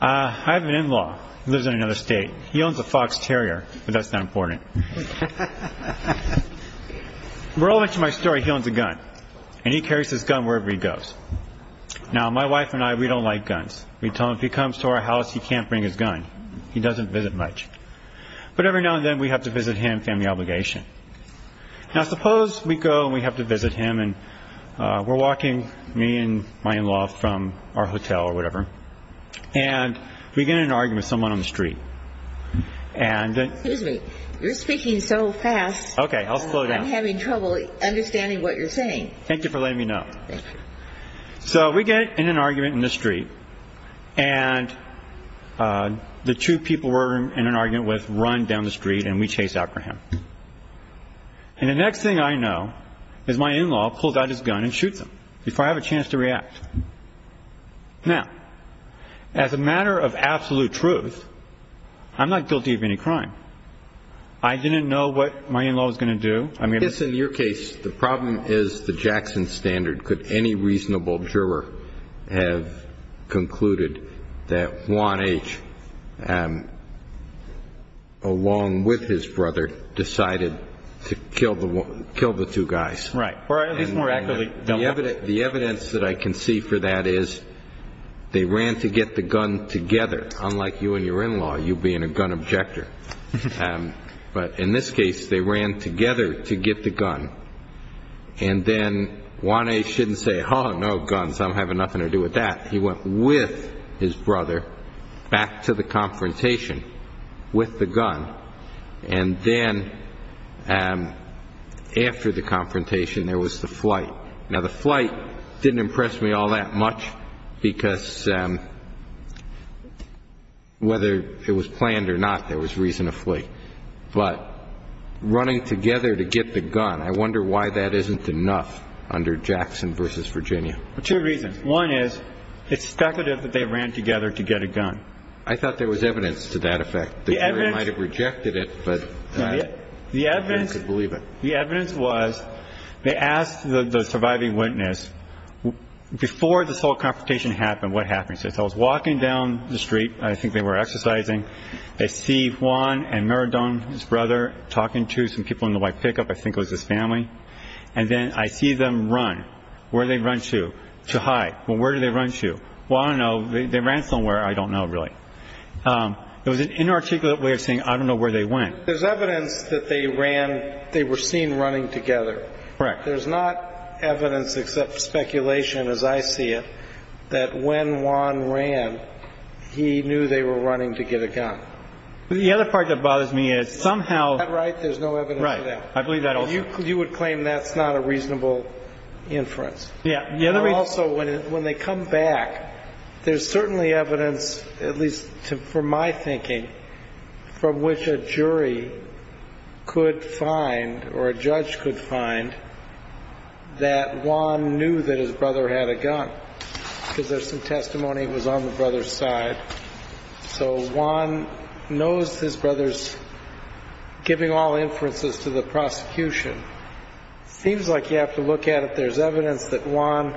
I have an in-law who lives in another state. He owns a Fox Terrier, but that's not important. Merle mentioned my story. He owns a gun, and he carries his gun wherever he goes. Now, my wife and I, we don't like guns. We tell him if he comes to our house, he can't bring his gun. He doesn't visit much. But every now and then, we have to visit him, family obligation. Now, suppose we go and we have to visit him, and we're walking, me and my in-law from our hotel or whatever, and we get in an argument with someone on the street. Excuse me. You're speaking so fast. Okay, I'll slow down. I'm having trouble understanding what you're saying. Thank you for letting me know. Thank you. So we get in an argument in the street, and the two people we're in an argument with run down the street, and we chase after him. And the next thing I know is my in-law pulls out his gun and shoots him before I have a chance to react. Now, as a matter of absolute truth, I'm not guilty of any crime. I didn't know what my in-law was going to do. I mean, in your case, the problem is the Jackson standard. Could any reasonable juror have concluded that Juan H., along with his brother, decided to kill the two guys? Right. Or at least more accurately. The evidence that I can see for that is they ran to get the gun together. Unlike you and your in-law, you being a gun objector. But in this case, they ran together to get the gun. And then Juan H. shouldn't say, oh, no, guns, I'm having nothing to do with that. He went with his brother back to the confrontation with the gun. And then after the confrontation, there was the flight. Now, the flight didn't impress me all that much, because whether it was planned or not, there was reason to flee. But running together to get the gun, I wonder why that isn't enough under Jackson v. Virginia. Two reasons. One is it's speculative that they ran together to get a gun. I thought there was evidence to that effect. The jury might have rejected it, but I couldn't believe it. The evidence was they asked the surviving witness, before this whole confrontation happened, what happened. So I was walking down the street. I think they were exercising. I see Juan and Maradona, his brother, talking to some people in the white pickup. I think it was his family. And then I see them run. Where did they run to? To hide. Well, where did they run to? Well, I don't know. They ran somewhere. I don't know, really. It was an inarticulate way of saying, I don't know where they went. There's evidence that they ran. They were seen running together. Correct. There's not evidence except speculation, as I see it, that when Juan ran, he knew they were running to get a gun. The other part that bothers me is somehow. Is that right? There's no evidence for that. Right. I believe that also. You would claim that's not a reasonable inference. Yeah. Also, when they come back, there's certainly evidence, at least for my thinking, from which a jury could find, or a judge could find, that Juan knew that his brother had a gun, because there's some testimony it was on the brother's side. So Juan knows his brother's giving all inferences to the prosecution. It seems like you have to look at it. There's evidence that Juan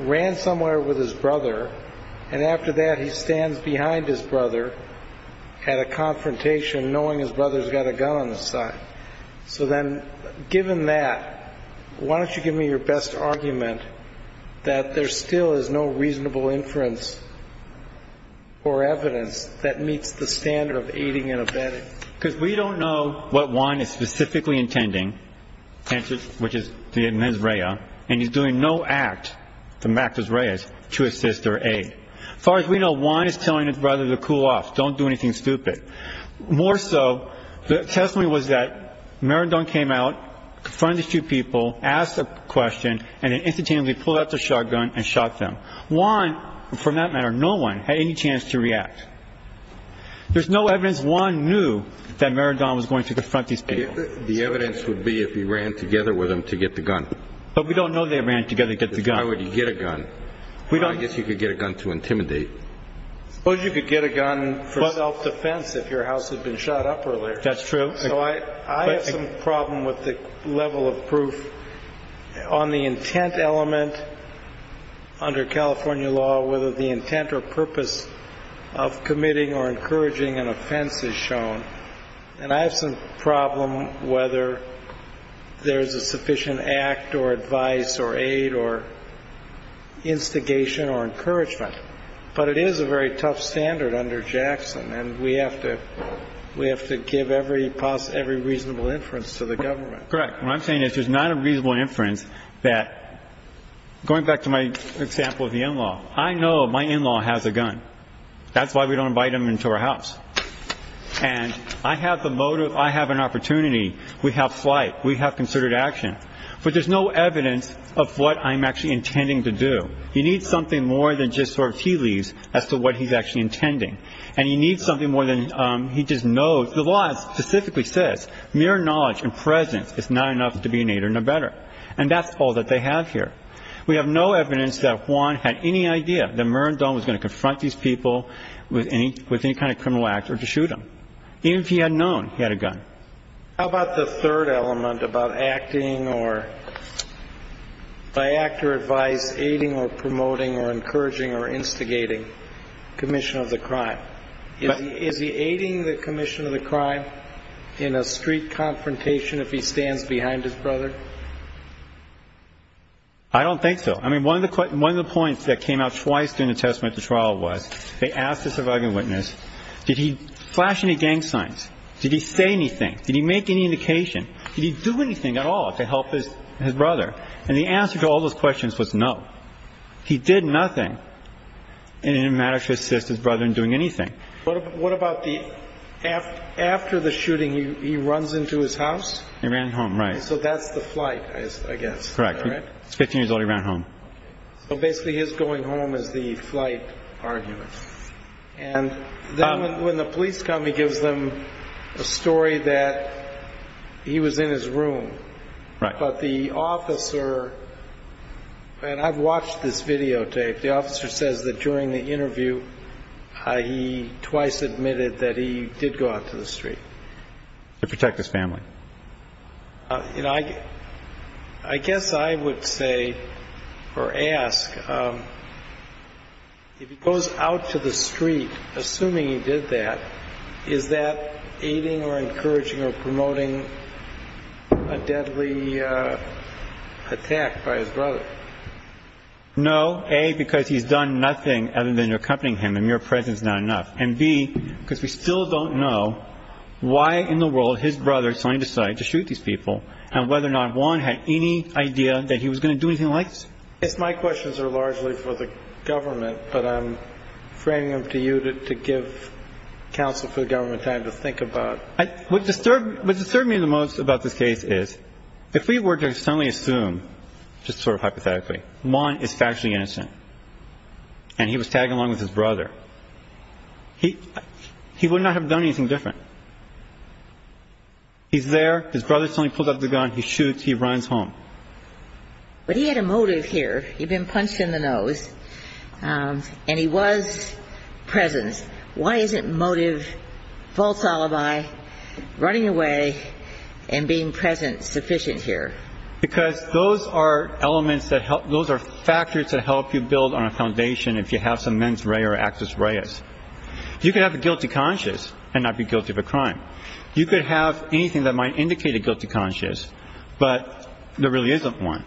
ran somewhere with his brother, and after that he stands behind his brother at a confrontation, knowing his brother's got a gun on his side. So then, given that, why don't you give me your best argument that there still is no reasonable inference or evidence that meets the standard of aiding and abetting? Because we don't know what Juan is specifically intending, which is to get in his RAIA, and he's doing no act, the MACRA's RAIA, to assist or aid. As far as we know, Juan is telling his brother to cool off, don't do anything stupid. More so, the testimony was that Maradon came out, confronted a few people, asked a question, and then instantaneously pulled out the shotgun and shot them. Juan, for that matter, no one had any chance to react. There's no evidence Juan knew that Maradon was going to confront these people. The evidence would be if he ran together with them to get the gun. But we don't know they ran together to get the gun. If I were to get a gun, I guess you could get a gun to intimidate. Suppose you could get a gun for self-defense if your house had been shot up earlier. That's true. So I have some problem with the level of proof on the intent element under California law, whether the intent or purpose of committing or encouraging an offense is shown. And I have some problem whether there's a sufficient act or advice or aid or instigation or encouragement. But it is a very tough standard under Jackson, and we have to give every reasonable inference to the government. Correct. What I'm saying is there's not a reasonable inference that, going back to my example of the in-law, I know my in-law has a gun. That's why we don't invite him into our house. And I have the motive. I have an opportunity. We have flight. We have concerted action. But there's no evidence of what I'm actually intending to do. You need something more than just sort of tea leaves as to what he's actually intending. And you need something more than he just knows. The law specifically says mere knowledge and presence is not enough to be an aider, no better. And that's all that they have here. We have no evidence that Juan had any idea that Mirandon was going to confront these people with any kind of criminal act or to shoot them. Even if he had known he had a gun. How about the third element about acting or, by act or advice, aiding or promoting or encouraging or instigating commission of the crime? Is he aiding the commission of the crime in a street confrontation if he stands behind his brother? I don't think so. I mean, one of the points that came out twice during the testimony at the trial was they asked the surviving witness, did he flash any gang signs? Did he say anything? Did he make any indication? Did he do anything at all to help his brother? And the answer to all those questions was no. He did nothing. And it didn't matter to assist his brother in doing anything. What about the after the shooting, he runs into his house? He ran home, right. So that's the flight, I guess. Correct. Fifteen years old, he ran home. So basically his going home is the flight argument. And then when the police come, he gives them a story that he was in his room. Right. But the officer, and I've watched this videotape, the officer says that during the interview he twice admitted that he did go out to the street. To protect his family. You know, I guess I would say or ask, if he goes out to the street, assuming he did that, is that aiding or encouraging or promoting a deadly attack by his brother? No. A, because he's done nothing other than accompanying him and your presence is not enough. And B, because we still don't know why in the world his brother suddenly decided to shoot these people and whether or not Juan had any idea that he was going to do anything like this. My questions are largely for the government, but I'm framing them to you to give counsel for the government time to think about. What disturbed me the most about this case is if we were to suddenly assume, just sort of hypothetically, Juan is factually innocent and he was tagging along with his brother, he would not have done anything different. He's there, his brother suddenly pulls out the gun, he shoots, he runs home. But he had a motive here. He'd been punched in the nose and he was present. Why isn't motive, false alibi, running away and being present sufficient here? Because those are elements that help, those are factors that help you build on a foundation if you have some mens rea or access reas. You could have a guilty conscience and not be guilty of a crime. You could have anything that might indicate a guilty conscience, but there really isn't one.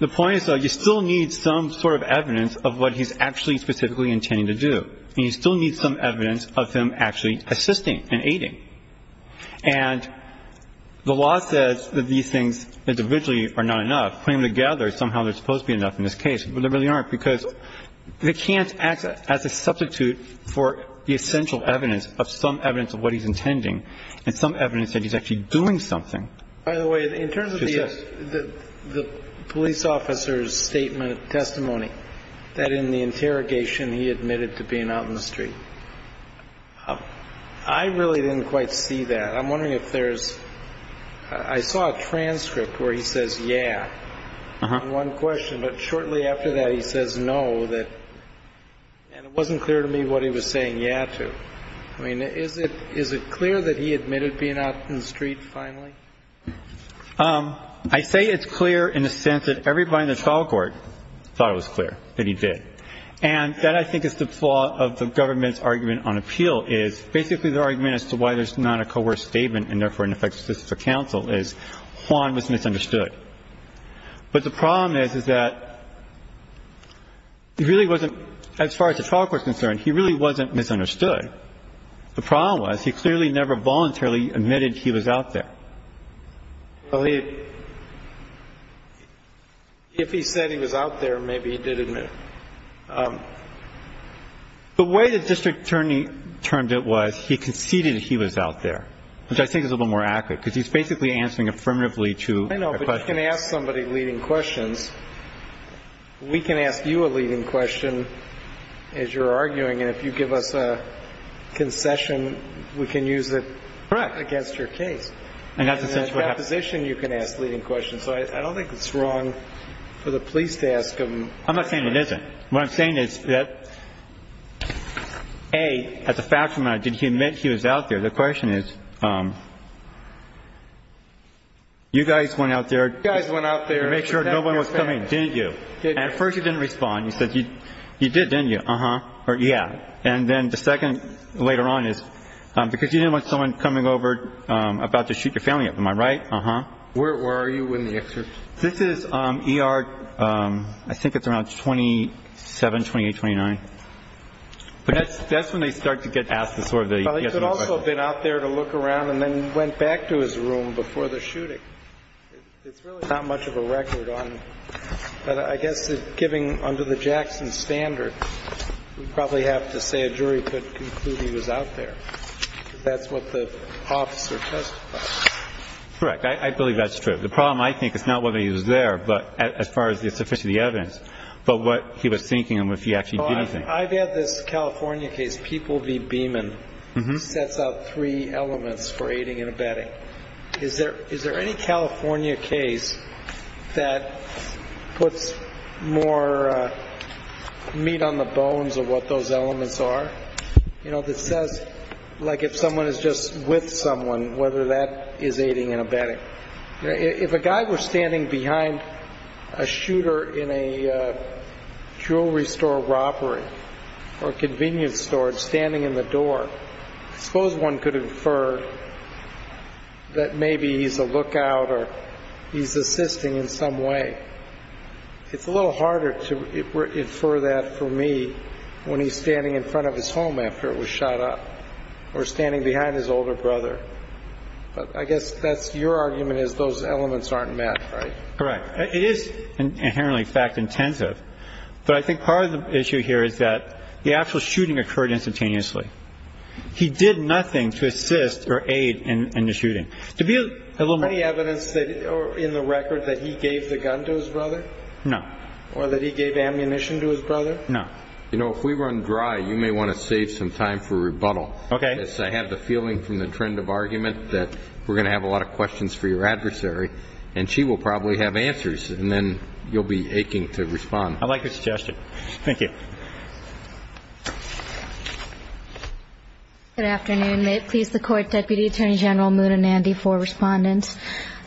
The point is, though, you still need some sort of evidence of what he's actually specifically intending to do. And you still need some evidence of him actually assisting and aiding. And the law says that these things individually are not enough. Putting them together, somehow they're supposed to be enough in this case, but they really aren't because they can't act as a substitute for the essential evidence of some evidence of what he's intending and some evidence that he's actually doing something. By the way, in terms of the police officer's statement, testimony, that in the interrogation he admitted to being out in the street. I really didn't quite see that. I'm wondering if there's, I saw a transcript where he says, yeah, in one question, but shortly after that he says no, and it wasn't clear to me what he was saying yeah to. I mean, is it clear that he admitted being out in the street finally? I say it's clear in the sense that everybody in the trial court thought it was clear that he did. And that, I think, is the flaw of the government's argument on appeal is basically the argument as to why there's not a coerced statement and therefore an effective system for counsel is Juan was misunderstood. But the problem is, is that he really wasn't, as far as the trial court is concerned, he really wasn't misunderstood. The problem was he clearly never voluntarily admitted he was out there. Well, he, if he said he was out there, maybe he did admit. The way the district attorney termed it was he conceded he was out there, which I think is a little more accurate because he's basically answering affirmatively to a question. I know, but you can ask somebody leading questions. We can ask you a leading question as you're arguing, and if you give us a concession, we can use it against your case. And in that position, you can ask leading questions. So I don't think it's wrong for the police to ask them. I'm not saying it isn't. What I'm saying is that, A, as a fact, did he admit he was out there? The question is you guys went out there to make sure nobody was coming, didn't you? And at first you didn't respond. You said you did, didn't you? Uh-huh. Or yeah. And then the second later on is because you didn't want someone coming over about to shoot your family, am I right? Uh-huh. Where are you in the excerpt? This is ER, I think it's around 27, 28, 29. But that's when they start to get asked the sort of the yes or no question. Well, he could also have been out there to look around and then went back to his room before the shooting. It's really not much of a record on it. But I guess giving under the Jackson standard, we probably have to say a jury could conclude he was out there. That's what the officer testified. Correct. I believe that's true. The problem, I think, is not whether he was there as far as the evidence, but what he was thinking and if he actually did anything. I've had this California case, People v. Beeman. Uh-huh. Sets out three elements for aiding and abetting. Is there any California case that puts more meat on the bones of what those elements are? You know, that says like if someone is just with someone, whether that is aiding and abetting. If a guy were standing behind a shooter in a jewelry store robbery or a convenience store and standing in the door, I suppose one could infer that maybe he's a lookout or he's assisting in some way. It's a little harder to infer that for me when he's standing in front of his home after it was shot up or standing behind his older brother. But I guess that's your argument is those elements aren't met, right? Correct. It is inherently fact intensive. But I think part of the issue here is that the actual shooting occurred instantaneously. He did nothing to assist or aid in the shooting. Any evidence in the record that he gave the gun to his brother? No. Or that he gave ammunition to his brother? No. You know, if we run dry, you may want to save some time for rebuttal. Okay. I guess I have the feeling from the trend of argument that we're going to have a lot of questions for your adversary. And she will probably have answers. And then you'll be aching to respond. I like your suggestion. Thank you. Good afternoon. May it please the Court, Deputy Attorney General Mood and Andy for respondents.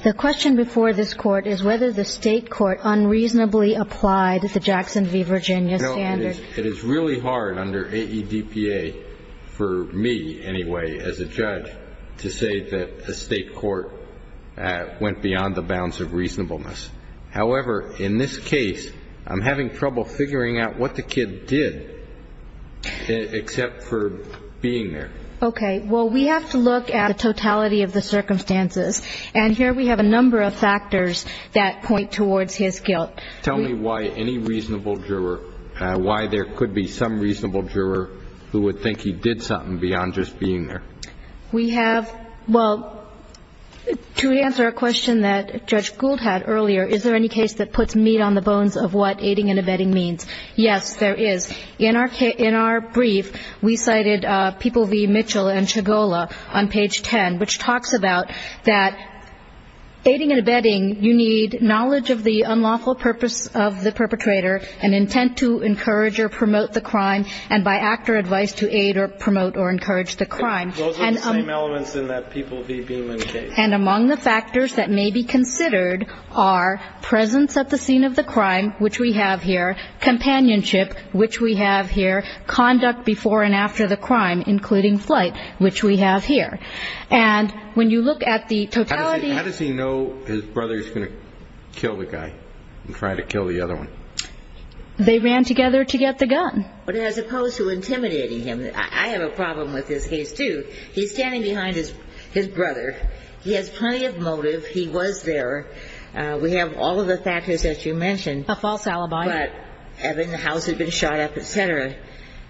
The question before this Court is whether the state court unreasonably applied the Jackson v. Virginia standard. It is really hard under AEDPA, for me anyway as a judge, to say that the state court went beyond the bounds of reasonableness. However, in this case, I'm having trouble figuring out what the kid did except for being there. Okay. Well, we have to look at the totality of the circumstances. And here we have a number of factors that point towards his guilt. Tell me why any reasonable juror, why there could be some reasonable juror who would think he did something beyond just being there. We have, well, to answer a question that Judge Gould had earlier, is there any case that puts meat on the bones of what aiding and abetting means? Yes, there is. In our brief, we cited People v. Mitchell and Chagolla on page 10, which talks about that aiding and abetting, you need knowledge of the unlawful purpose of the perpetrator, an intent to encourage or promote the crime, and by act or advice to aid or promote or encourage the crime. Those are the same elements in that People v. Beeman case. And among the factors that may be considered are presence at the scene of the crime, which we have here, companionship, which we have here, conduct before and after the crime, including flight, which we have here. And when you look at the totality of the crime, how does he know his brother is going to kill the guy and try to kill the other one? They ran together to get the gun. But as opposed to intimidating him, I have a problem with this case, too. He's standing behind his brother. He has plenty of motive. He was there. We have all of the factors that you mentioned. But Evan, the house had been shot up, et cetera.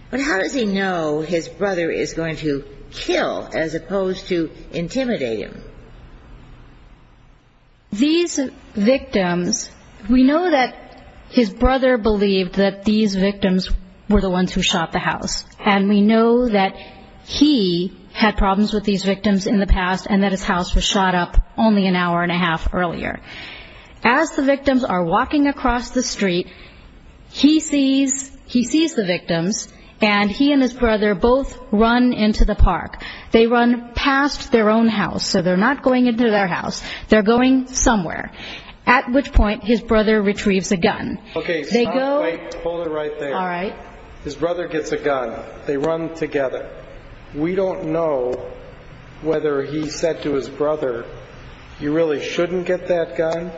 But how does he know his brother is going to kill as opposed to intimidate him? These victims, we know that his brother believed that these victims were the ones who shot the house. And we know that he had problems with these victims in the past and that his house was shot up only an hour and a half earlier. As the victims are walking across the street, he sees the victims, and he and his brother both run into the park. They run past their own house, so they're not going into their house. They're going somewhere, at which point his brother retrieves a gun. Okay. Stop. Wait. Hold it right there. All right. His brother gets a gun. They run together. We don't know whether he said to his brother, you really shouldn't get that gun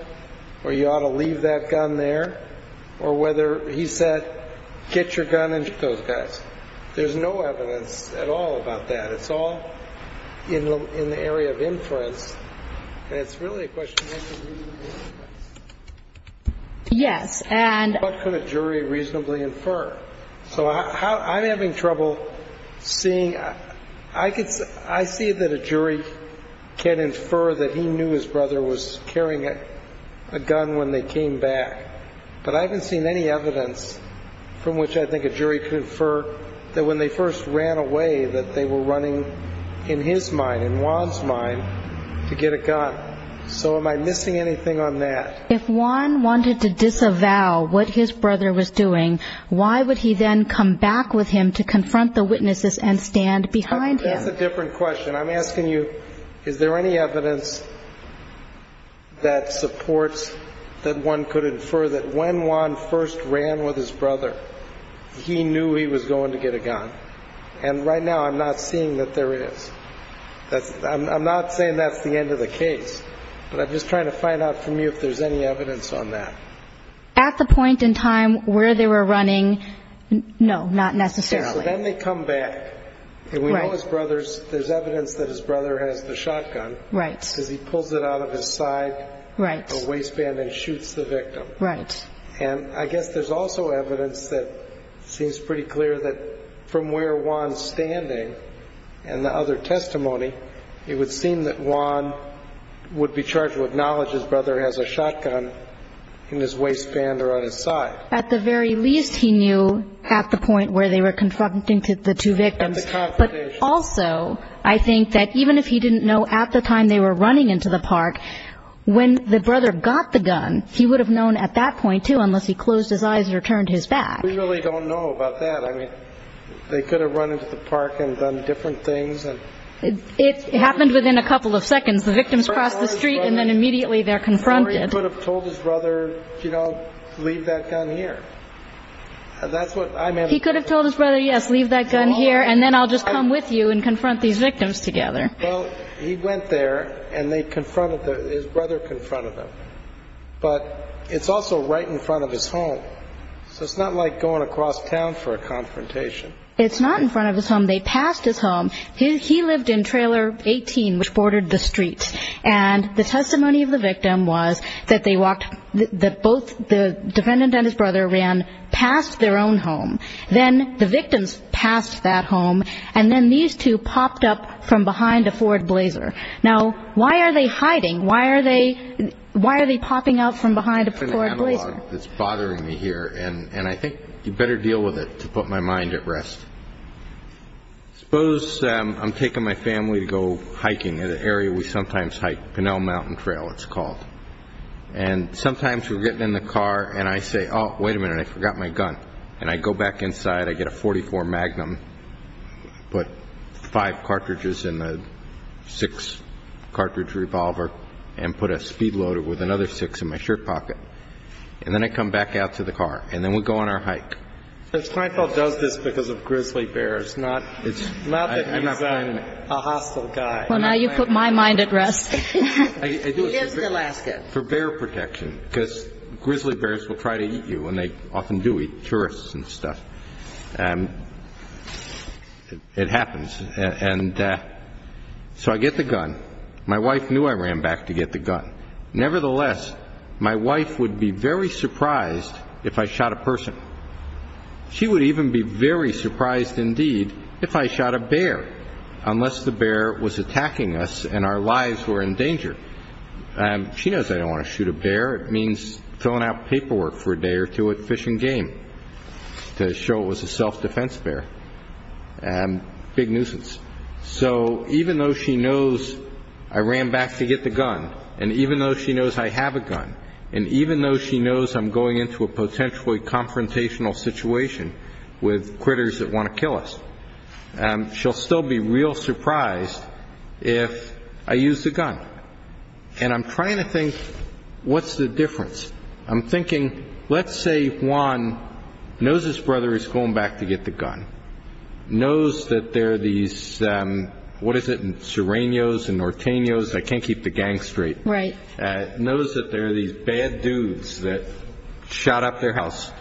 or you ought to leave that gun there, or whether he said, get your gun and shoot those guys. There's no evidence at all about that. It's all in the area of inference. And it's really a question of what could a jury reasonably infer. Yes. What could a jury reasonably infer? So I'm having trouble seeing. I see that a jury can infer that he knew his brother was carrying a gun when they came back, but I haven't seen any evidence from which I think a jury could infer that when they first ran away, that they were running in his mind, in Juan's mind, to get a gun. So am I missing anything on that? If Juan wanted to disavow what his brother was doing, why would he then come back with him to confront the witnesses and stand behind him? That's a different question. I'm asking you, is there any evidence that supports that one could infer that when Juan first ran with his brother, he knew he was going to get a gun? And right now I'm not seeing that there is. I'm not saying that's the end of the case, but I'm just trying to find out from you if there's any evidence on that. At the point in time where they were running, no, not necessarily. So then they come back. Right. And we know his brother's, there's evidence that his brother has the shotgun. Right. Because he pulls it out of his side. Right. The waistband and shoots the victim. Right. And I guess there's also evidence that seems pretty clear that from where Juan's standing and the other testimony, it would seem that Juan would be charged with knowledge his brother has a shotgun in his waistband or on his side. At the very least, he knew at the point where they were confronting the two victims. But also, I think that even if he didn't know at the time they were running into the park, when the brother got the gun, he would have known at that point, too, unless he closed his eyes or turned his back. We really don't know about that. I mean, they could have run into the park and done different things. It happened within a couple of seconds. The victims crossed the street and then immediately they're confronted. Or he could have told his brother, you know, leave that gun here. He could have told his brother, yes, leave that gun here and then I'll just come with you and confront these victims together. Well, he went there and they confronted, his brother confronted them. But it's also right in front of his home. So it's not like going across town for a confrontation. It's not in front of his home. They passed his home. He lived in Trailer 18, which bordered the streets. And the testimony of the victim was that they walked, that both the defendant and his brother ran past their own home. Then the victims passed that home. And then these two popped up from behind a Ford Blazer. Now, why are they hiding? Why are they popping up from behind a Ford Blazer? It's bothering me here. And I think you better deal with it to put my mind at rest. Suppose I'm taking my family to go hiking at an area we sometimes hike, Pinnell Mountain Trail it's called. And sometimes we're getting in the car and I say, oh, wait a minute, I forgot my gun. And I go back inside, I get a .44 Magnum, put five cartridges in the six-cartridge revolver and put a speed loader with another six in my shirt pocket. And then I come back out to the car. And then we go on our hike. Mr. Kleinfeld does this because of grizzly bears, not that he's a hostile guy. Well, now you put my mind at rest. He lives in Alaska. For bear protection, because grizzly bears will try to eat you, and they often do eat tourists and stuff. And it happens. And so I get the gun. My wife knew I ran back to get the gun. Nevertheless, my wife would be very surprised if I shot a person. She would even be very surprised indeed if I shot a bear, unless the bear was attacking us and our lives were in danger. She knows I don't want to shoot a bear. It means filling out paperwork for a day or two at Fish and Game to show it was a self-defense bear. Big nuisance. So even though she knows I ran back to get the gun, and even though she knows I have a gun, and even though she knows I'm going into a potentially confrontational situation with critters that want to kill us, she'll still be real surprised if I use the gun. And I'm trying to think, what's the difference? I'm thinking, let's say Juan knows his brother is going back to get the gun, knows that there are these, what is it, Sirenos and Nortenos, I can't keep the gang straight. Right. Knows that there are these bad dudes that shot up their house.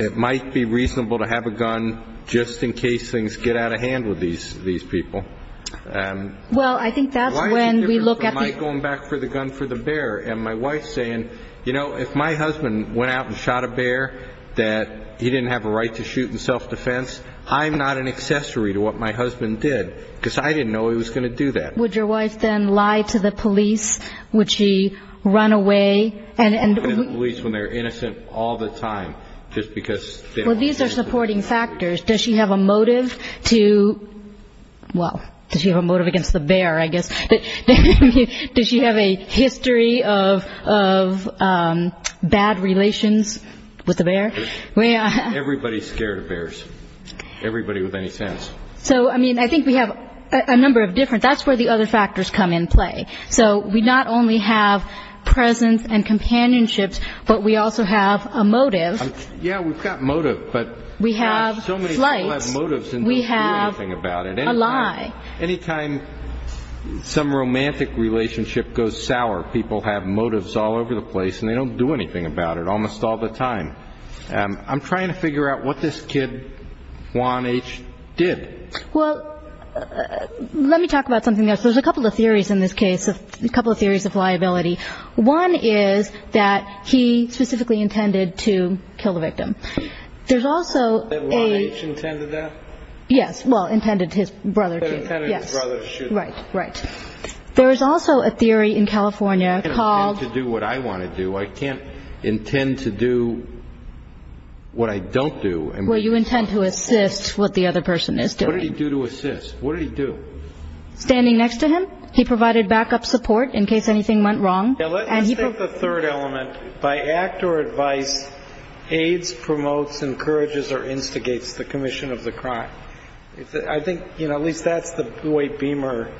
It might be reasonable to have a gun just in case things get out of hand with these people. Well, I think that's when we look at the- Why is it different from my going back for the gun for the bear? And my wife saying, you know, if my husband went out and shot a bear that he didn't have a right to shoot in self-defense, I'm not an accessory to what my husband did because I didn't know he was going to do that. Would your wife then lie to the police? Would she run away? And the police, when they're innocent all the time just because- Well, these are supporting factors. Does she have a motive to, well, does she have a motive against the bear, I guess? Does she have a history of bad relations with the bear? Everybody's scared of bears, everybody with any sense. So, I mean, I think we have a number of different-that's where the other factors come in play. So we not only have presence and companionships, but we also have a motive. Yeah, we've got motive, but- We have flight. So many people have motives and don't do anything about it. We have a lie. Anytime some romantic relationship goes sour, people have motives all over the place and they don't do anything about it almost all the time. I'm trying to figure out what this kid, Juan H., did. Well, let me talk about something else. There's a couple of theories in this case, a couple of theories of liability. One is that he specifically intended to kill the victim. There's also a- That Juan H. intended that? Yes, well, intended his brother to, yes. Intended his brother to shoot him. Right, right. There is also a theory in California called- I can't intend to do what I want to do. I can't intend to do what I don't do. Well, you intend to assist what the other person is doing. What did he do to assist? What did he do? Standing next to him. He provided backup support in case anything went wrong. Now, let me state the third element. By act or advice, aids, promotes, encourages, or instigates the commission of the crime. I think, you know, at least that's the way Beamer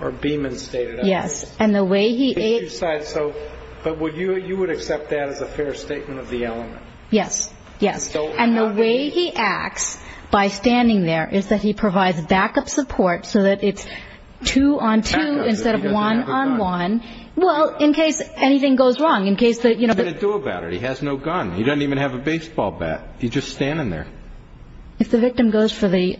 or Beeman stated it. Yes, and the way he- But you would accept that as a fair statement of the element? Yes, yes. And the way he acts by standing there is that he provides backup support so that it's two on two instead of one on one. Well, in case anything goes wrong, in case- What's he going to do about it? He has no gun. He doesn't even have a baseball bat. He's just standing there. If the victim goes for the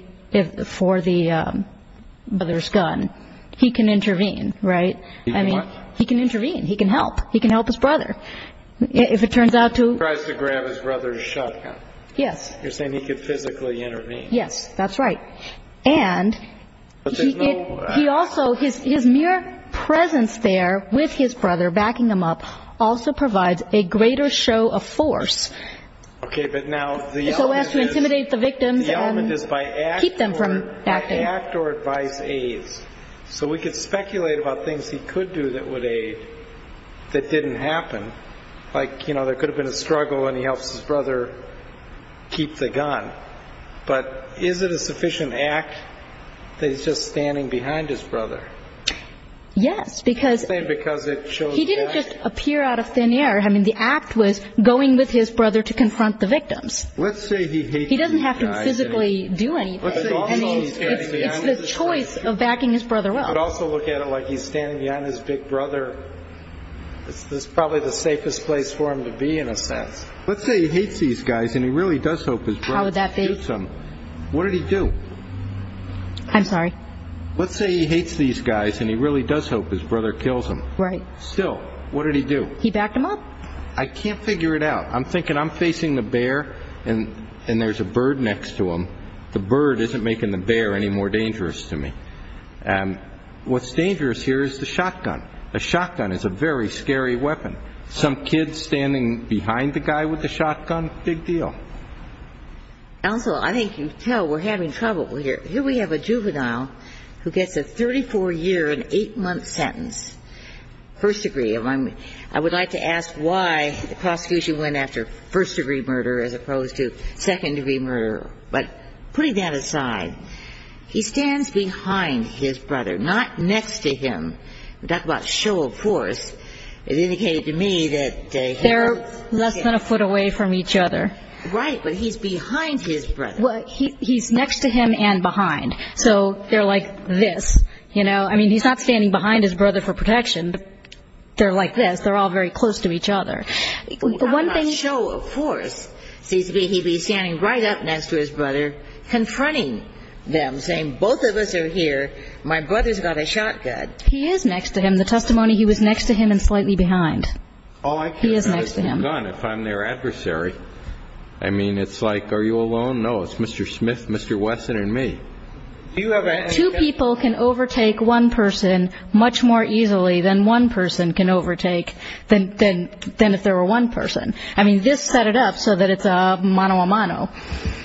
brother's gun, he can intervene, right? He can what? He can intervene. He can help. He can help his brother. If it turns out to- He tries to grab his brother's shotgun. Yes. You're saying he could physically intervene. Yes, that's right. And he also, his mere presence there with his brother, backing him up, also provides a greater show of force. Okay, but now the element is- So as to intimidate the victims and keep them from acting. The element is by act or advise aides. So we could speculate about things he could do that would aid that didn't happen. Like, you know, there could have been a struggle and he helps his brother keep the gun. But is it a sufficient act that he's just standing behind his brother? Yes, because- You're saying because it shows- He didn't just appear out of thin air. I mean, the act was going with his brother to confront the victims. Let's say he hates these guys. He doesn't have to physically do anything. I mean, it's the choice of backing his brother up. But also look at it like he's standing behind his big brother. It's probably the safest place for him to be, in a sense. Let's say he hates these guys and he really does hope his brother- How would that be? What did he do? I'm sorry? Let's say he hates these guys and he really does hope his brother kills him. Right. Still, what did he do? He backed him up. I can't figure it out. I'm thinking I'm facing the bear and there's a bird next to him. The bird isn't making the bear any more dangerous to me. What's dangerous here is the shotgun. A shotgun is a very scary weapon. Some kid standing behind the guy with the shotgun, big deal. Also, I think you can tell we're having trouble here. Here we have a juvenile who gets a 34-year and 8-month sentence, first degree. I would like to ask why the prosecution went after first-degree murder as opposed to second-degree murder. But putting that aside, he stands behind his brother, not next to him. We're talking about show of force. It indicated to me that here. They're less than a foot away from each other. Right, but he's behind his brother. He's next to him and behind. So they're like this. I mean, he's not standing behind his brother for protection. They're like this. They're all very close to each other. One thing. Not show of force. Seems to me he'd be standing right up next to his brother, confronting them, saying, both of us are here, my brother's got a shotgun. He is next to him. The testimony, he was next to him and slightly behind. He is next to him. If I'm their adversary, I mean, it's like, are you alone? No, it's Mr. Smith, Mr. Wesson, and me. Two people can overtake one person much more easily than one person can overtake than if there were one person. I mean, this set it up so that it's a mano a mano.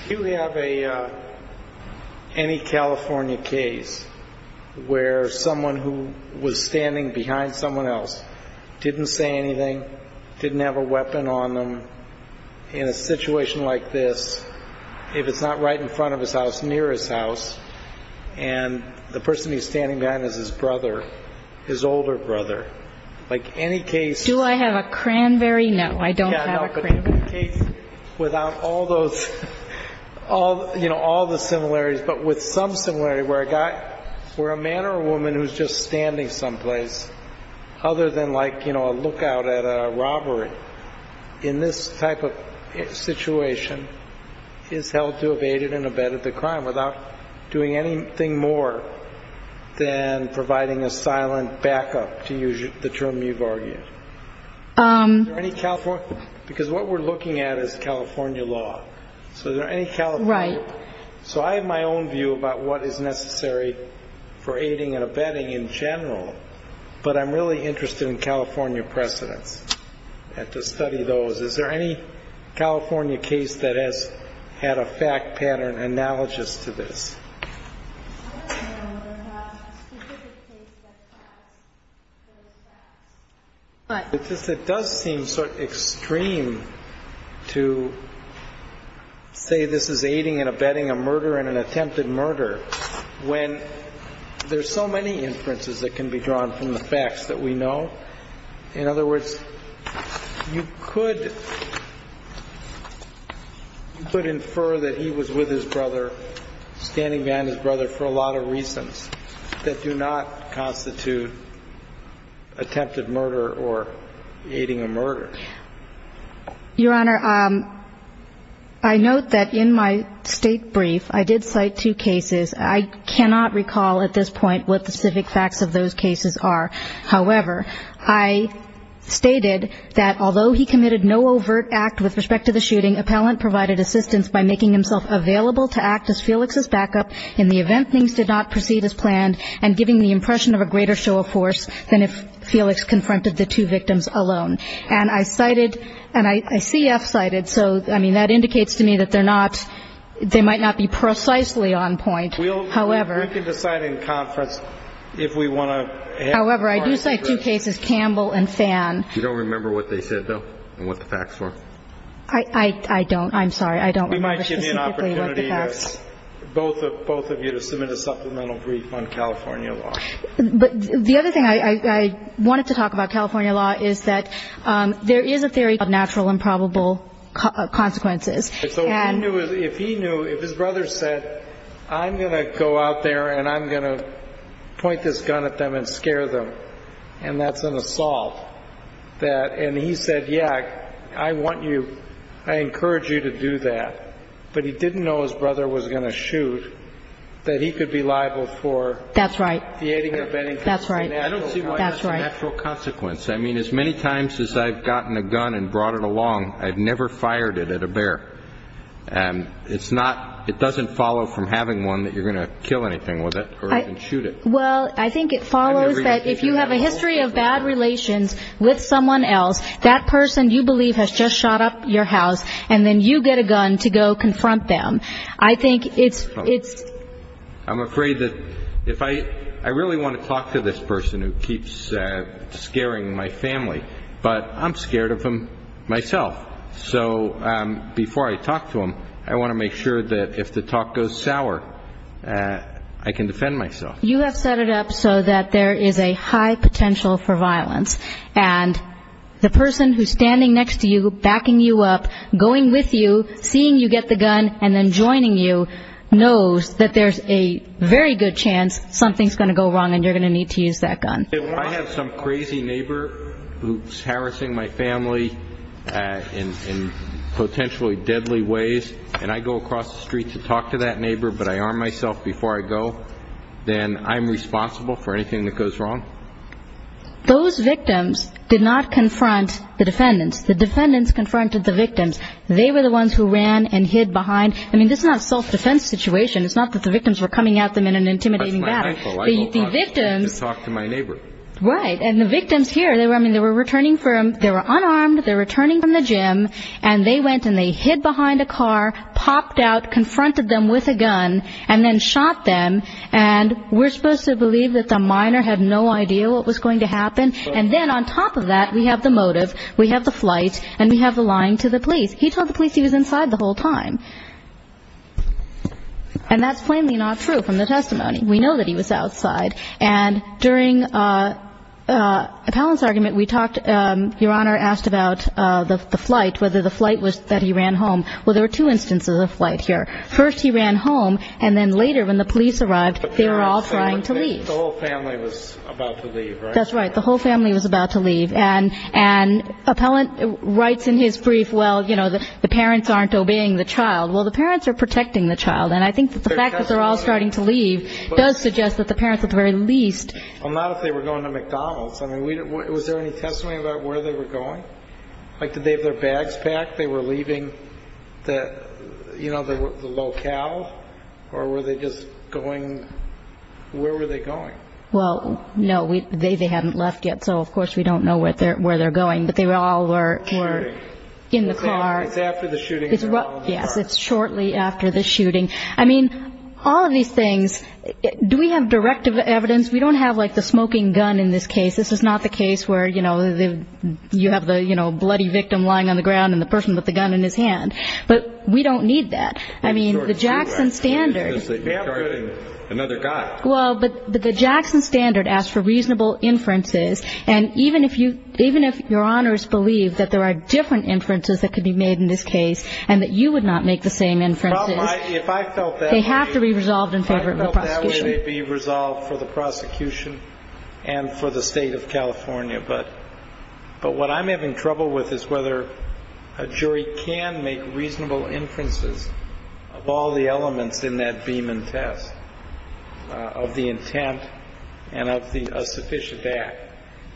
Do you have any California case where someone who was standing behind someone else didn't say anything, didn't have a weapon on them, in a situation like this, if it's not right in front of his house, near his house, and the person he's standing behind is his brother, his older brother? Like, any case. Do I have a Cranberry? No, I don't have a Cranberry. Do you have a case without all those, you know, all the similarities, but with some similarity where a man or a woman who's just standing someplace, other than like, you know, a lookout at a robbery, in this type of situation, is held to have aided and abetted the crime without doing anything more than providing a silent backup, to use the term you've argued? Is there any California? Because what we're looking at is California law. So is there any California? Right. So I have my own view about what is necessary for aiding and abetting in general, but I'm really interested in California precedents and to study those. Is there any California case that has had a fact pattern analogous to this? I don't know of a specific case that has those facts. It does seem sort of extreme to say this is aiding and abetting a murder and an attempted murder when there's so many inferences that can be drawn from the facts that we know. In other words, you could infer that he was with his brother, standing behind his brother, for a lot of reasons that do not constitute attempted murder or aiding a murder. Your Honor, I note that in my state brief, I did cite two cases. I cannot recall at this point what the specific facts of those cases are. However, I stated that although he committed no overt act with respect to the shooting, appellant provided assistance by making himself available to act as Felix's backup in the event things did not proceed as planned and giving the impression of a greater show of force than if Felix confronted the two victims alone. And I cited, and I see F cited, so, I mean, that indicates to me that they're not, they might not be precisely on point. However. We can decide in conference if we want to. However, I do cite two cases, Campbell and Fan. You don't remember what they said, though, and what the facts were? I don't. I'm sorry. I don't remember specifically what the facts. We might give you an opportunity, both of you, to submit a supplemental brief on California law. But the other thing I wanted to talk about California law is that there is a theory of natural and probable consequences. So if he knew, if his brother said, I'm going to go out there and I'm going to point this gun at them and scare them, and that's an assault, that, and he said, yeah, I want you, I encourage you to do that, but he didn't know his brother was going to shoot, that he could be liable for. That's right. That's right. I don't see why that's a natural consequence. I mean, as many times as I've gotten a gun and brought it along, I've never fired it at a bear. And it's not, it doesn't follow from having one that you're going to kill anything with it or even shoot it. Well, I think it follows that if you have a history of bad relations with someone else, that person, you believe, has just shot up your house, and then you get a gun to go confront them. I think it's. I'm afraid that if I, I really want to talk to this person who keeps scaring my family, but I'm scared of him myself. So before I talk to him, I want to make sure that if the talk goes sour, I can defend myself. You have set it up so that there is a high potential for violence, and the person who's standing next to you, backing you up, going with you, seeing you get the gun and then joining you, knows that there's a very good chance something's going to go wrong and you're going to need to use that gun. If I have some crazy neighbor who's harassing my family in potentially deadly ways, and I go across the street to talk to that neighbor, but I arm myself before I go, then I'm responsible for anything that goes wrong? Those victims did not confront the defendants. The defendants confronted the victims. They were the ones who ran and hid behind. I mean, this is not a self-defense situation. It's not that the victims were coming at them in an intimidating battle. The victims. I go across the street to talk to my neighbor. Right. And the victims here, I mean, they were returning from, they were unarmed. They were returning from the gym, and they went and they hid behind a car, popped out, confronted them with a gun, and then shot them. And we're supposed to believe that the minor had no idea what was going to happen? And then on top of that, we have the motive, we have the flight, and we have the lying to the police. He told the police he was inside the whole time. And that's plainly not true from the testimony. We know that he was outside. And during Palin's argument, we talked, Your Honor, asked about the flight, whether the flight was that he ran home. Well, there were two instances of flight here. First, he ran home, and then later when the police arrived, they were all trying to leave. The whole family was about to leave, right? That's right. The whole family was about to leave. And Appellant writes in his brief, well, you know, the parents aren't obeying the child. Well, the parents are protecting the child. And I think that the fact that they're all starting to leave does suggest that the parents at the very least. Well, not if they were going to McDonald's. I mean, was there any testimony about where they were going? Like, did they have their bags packed? They were leaving the, you know, the locale? Or were they just going, where were they going? Well, no, they hadn't left yet. So, of course, we don't know where they're going. But they all were in the car. It's after the shooting. Yes, it's shortly after the shooting. I mean, all of these things, do we have direct evidence? We don't have, like, the smoking gun in this case. This is not the case where, you know, you have the, you know, bloody victim lying on the ground and the person with the gun in his hand. But we don't need that. I mean, the Jackson standards. Another guy. Well, but the Jackson standard asks for reasonable inferences. And even if your honors believe that there are different inferences that could be made in this case and that you would not make the same inferences, they have to be resolved in favor of the prosecution. If I felt that way, they'd be resolved for the prosecution and for the State of California. But what I'm having trouble with is whether a jury can make reasonable inferences of all the elements in that Beaman test. Of the intent and of the sufficient act.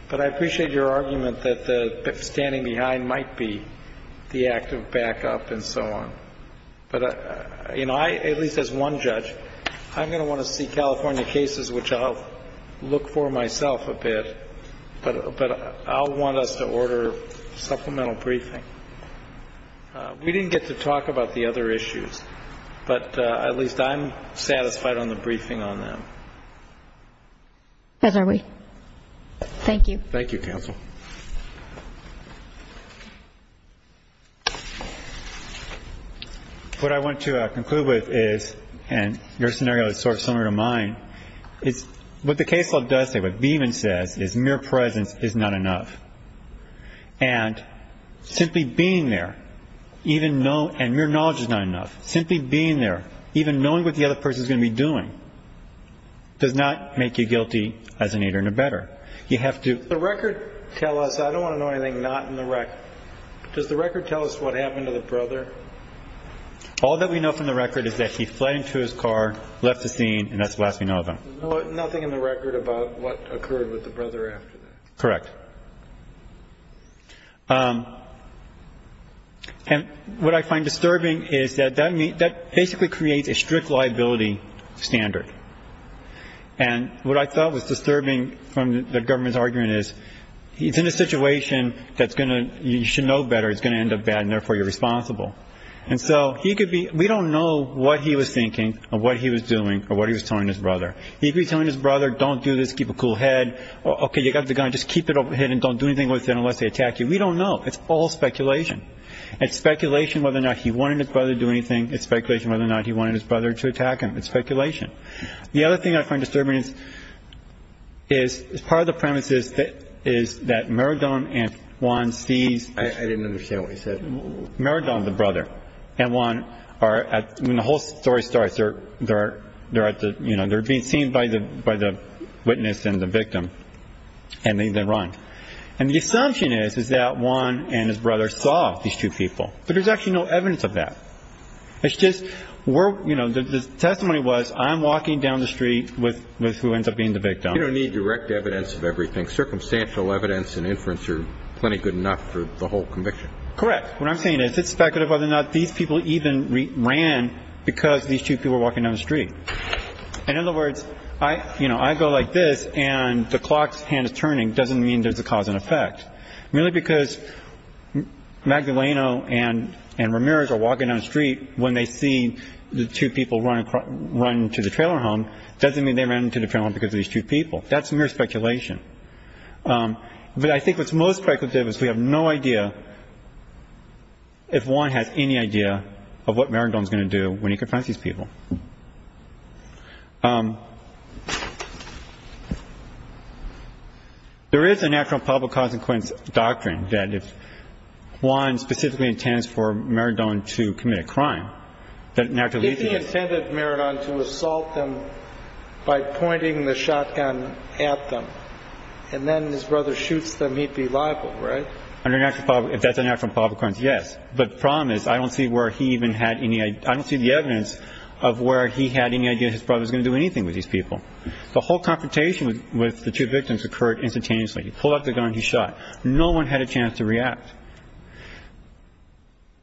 But I appreciate your argument that the standing behind might be the act of backup and so on. But, you know, I, at least as one judge, I'm going to want to see California cases which I'll look for myself a bit. But I'll want us to order supplemental briefing. We didn't get to talk about the other issues. But at least I'm satisfied on the briefing on them. As are we. Thank you. Thank you, counsel. What I want to conclude with is, and your scenario is sort of similar to mine, is what the case law does say, what Beaman says is mere presence is not enough. And simply being there, even know, and mere knowledge is not enough. Simply being there, even knowing what the other person is going to be doing, does not make you guilty as an eater and a better. You have to. The record tell us, I don't want to know anything not in the record. Does the record tell us what happened to the brother? All that we know from the record is that he fled into his car, left the scene, and that's the last we know of him. There's nothing in the record about what occurred with the brother after that. Correct. And what I find disturbing is that that basically creates a strict liability standard. And what I thought was disturbing from the government's argument is he's in a situation that's going to, you should know better, it's going to end up bad and therefore you're responsible. And so he could be, we don't know what he was thinking or what he was doing or what he was telling his brother. He could be telling his brother, don't do this, keep a cool head. Okay, you got the gun, just keep it overhead and don't do anything with it unless they attack you. We don't know. It's all speculation. It's speculation whether or not he wanted his brother to do anything. It's speculation whether or not he wanted his brother to attack him. It's speculation. The other thing I find disturbing is part of the premise is that Maradona and Juan sees. I didn't understand what you said. Maradona, the brother, and Juan are at, when the whole story starts, they're at the, you know, they're being seen by the witness and the victim and they run. And the assumption is that Juan and his brother saw these two people. But there's actually no evidence of that. It's just, you know, the testimony was I'm walking down the street with who ends up being the victim. You don't need direct evidence of everything. I think circumstantial evidence and inference are plenty good enough for the whole conviction. Correct. What I'm saying is it's speculative whether or not these people even ran because these two people were walking down the street. In other words, you know, I go like this and the clock's hand is turning doesn't mean there's a cause and effect. Really because Magdaleno and Ramirez are walking down the street when they see the two people run to the trailer home doesn't mean they ran to the trailer home because of these two people. That's mere speculation. But I think what's most speculative is we have no idea if Juan has any idea of what Maradona is going to do when he confronts these people. There is a natural public consequence doctrine that if Juan specifically intends for Maradona to commit a crime, If he intended Maradona to assault them by pointing the shotgun at them and then his brother shoots them, he'd be liable, right? If that's a natural public consequence, yes. But the problem is I don't see the evidence of where he had any idea his brother was going to do anything with these people. The whole confrontation with the two victims occurred instantaneously. He pulled out the gun and he shot. No one had a chance to react.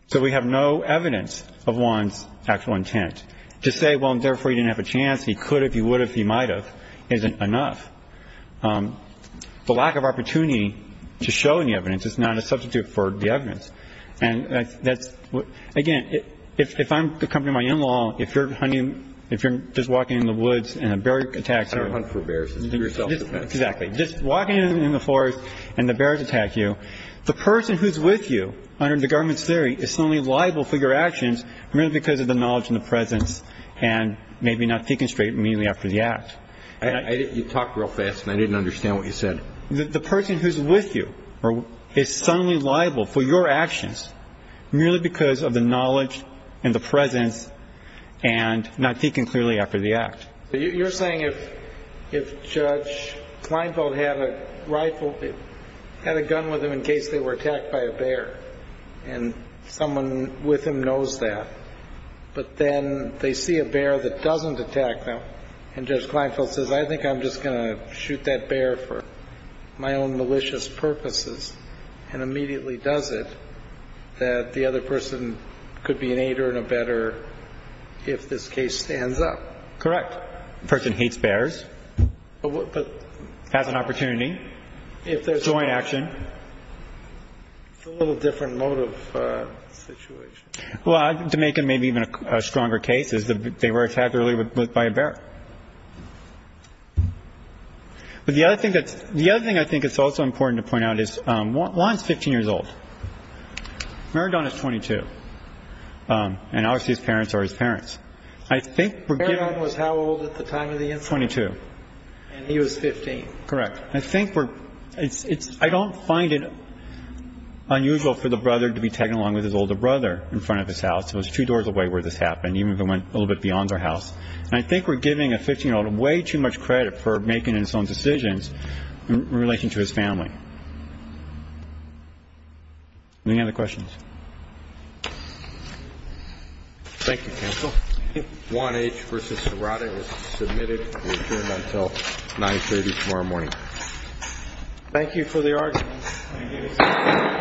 So we have no evidence of Juan's actual intent. To say, well, therefore, he didn't have a chance, he could have, he would have, he might have, isn't enough. The lack of opportunity to show any evidence is not a substitute for the evidence. And that's, again, if I'm accompanying my in-law, if you're hunting, if you're just walking in the woods and a bear attacks you. I don't hunt for bears. This is your self-defense. Exactly. Just walking in the forest and the bears attack you. The person who's with you under the government's theory is suddenly liable for your actions merely because of the knowledge and the presence and maybe not thinking straight immediately after the act. You talked real fast and I didn't understand what you said. The person who's with you is suddenly liable for your actions merely because of the knowledge and the presence and not thinking clearly after the act. You're saying if Judge Kleinfeld had a rifle, had a gun with him in case they were attacked by a bear and someone with him knows that, but then they see a bear that doesn't attack them and Judge Kleinfeld says, I think I'm just going to shoot that bear for my own malicious purposes and immediately does it, that the other person could be an aider and a better if this case stands up. Correct. The person hates bears, has an opportunity, if there's joint action. It's a little different mode of situation. Well, to make it maybe even a stronger case is that they were attacked earlier by a bear. But the other thing I think is also important to point out is Juan is 15 years old. Maradona is 22. And obviously his parents are his parents. Maradona was how old at the time of the incident? 22. And he was 15. Correct. I don't find it unusual for the brother to be tagging along with his older brother in front of his house. It was two doors away where this happened, even if it went a little bit beyond their house. And I think we're giving a 15-year-old way too much credit for making his own decisions in relation to his family. Any other questions? Thank you, counsel. Juan H. v. Serrata is submitted to adjourn until 9.30 tomorrow morning. Thank you for the argument. Thank you. Thank you. Thank you.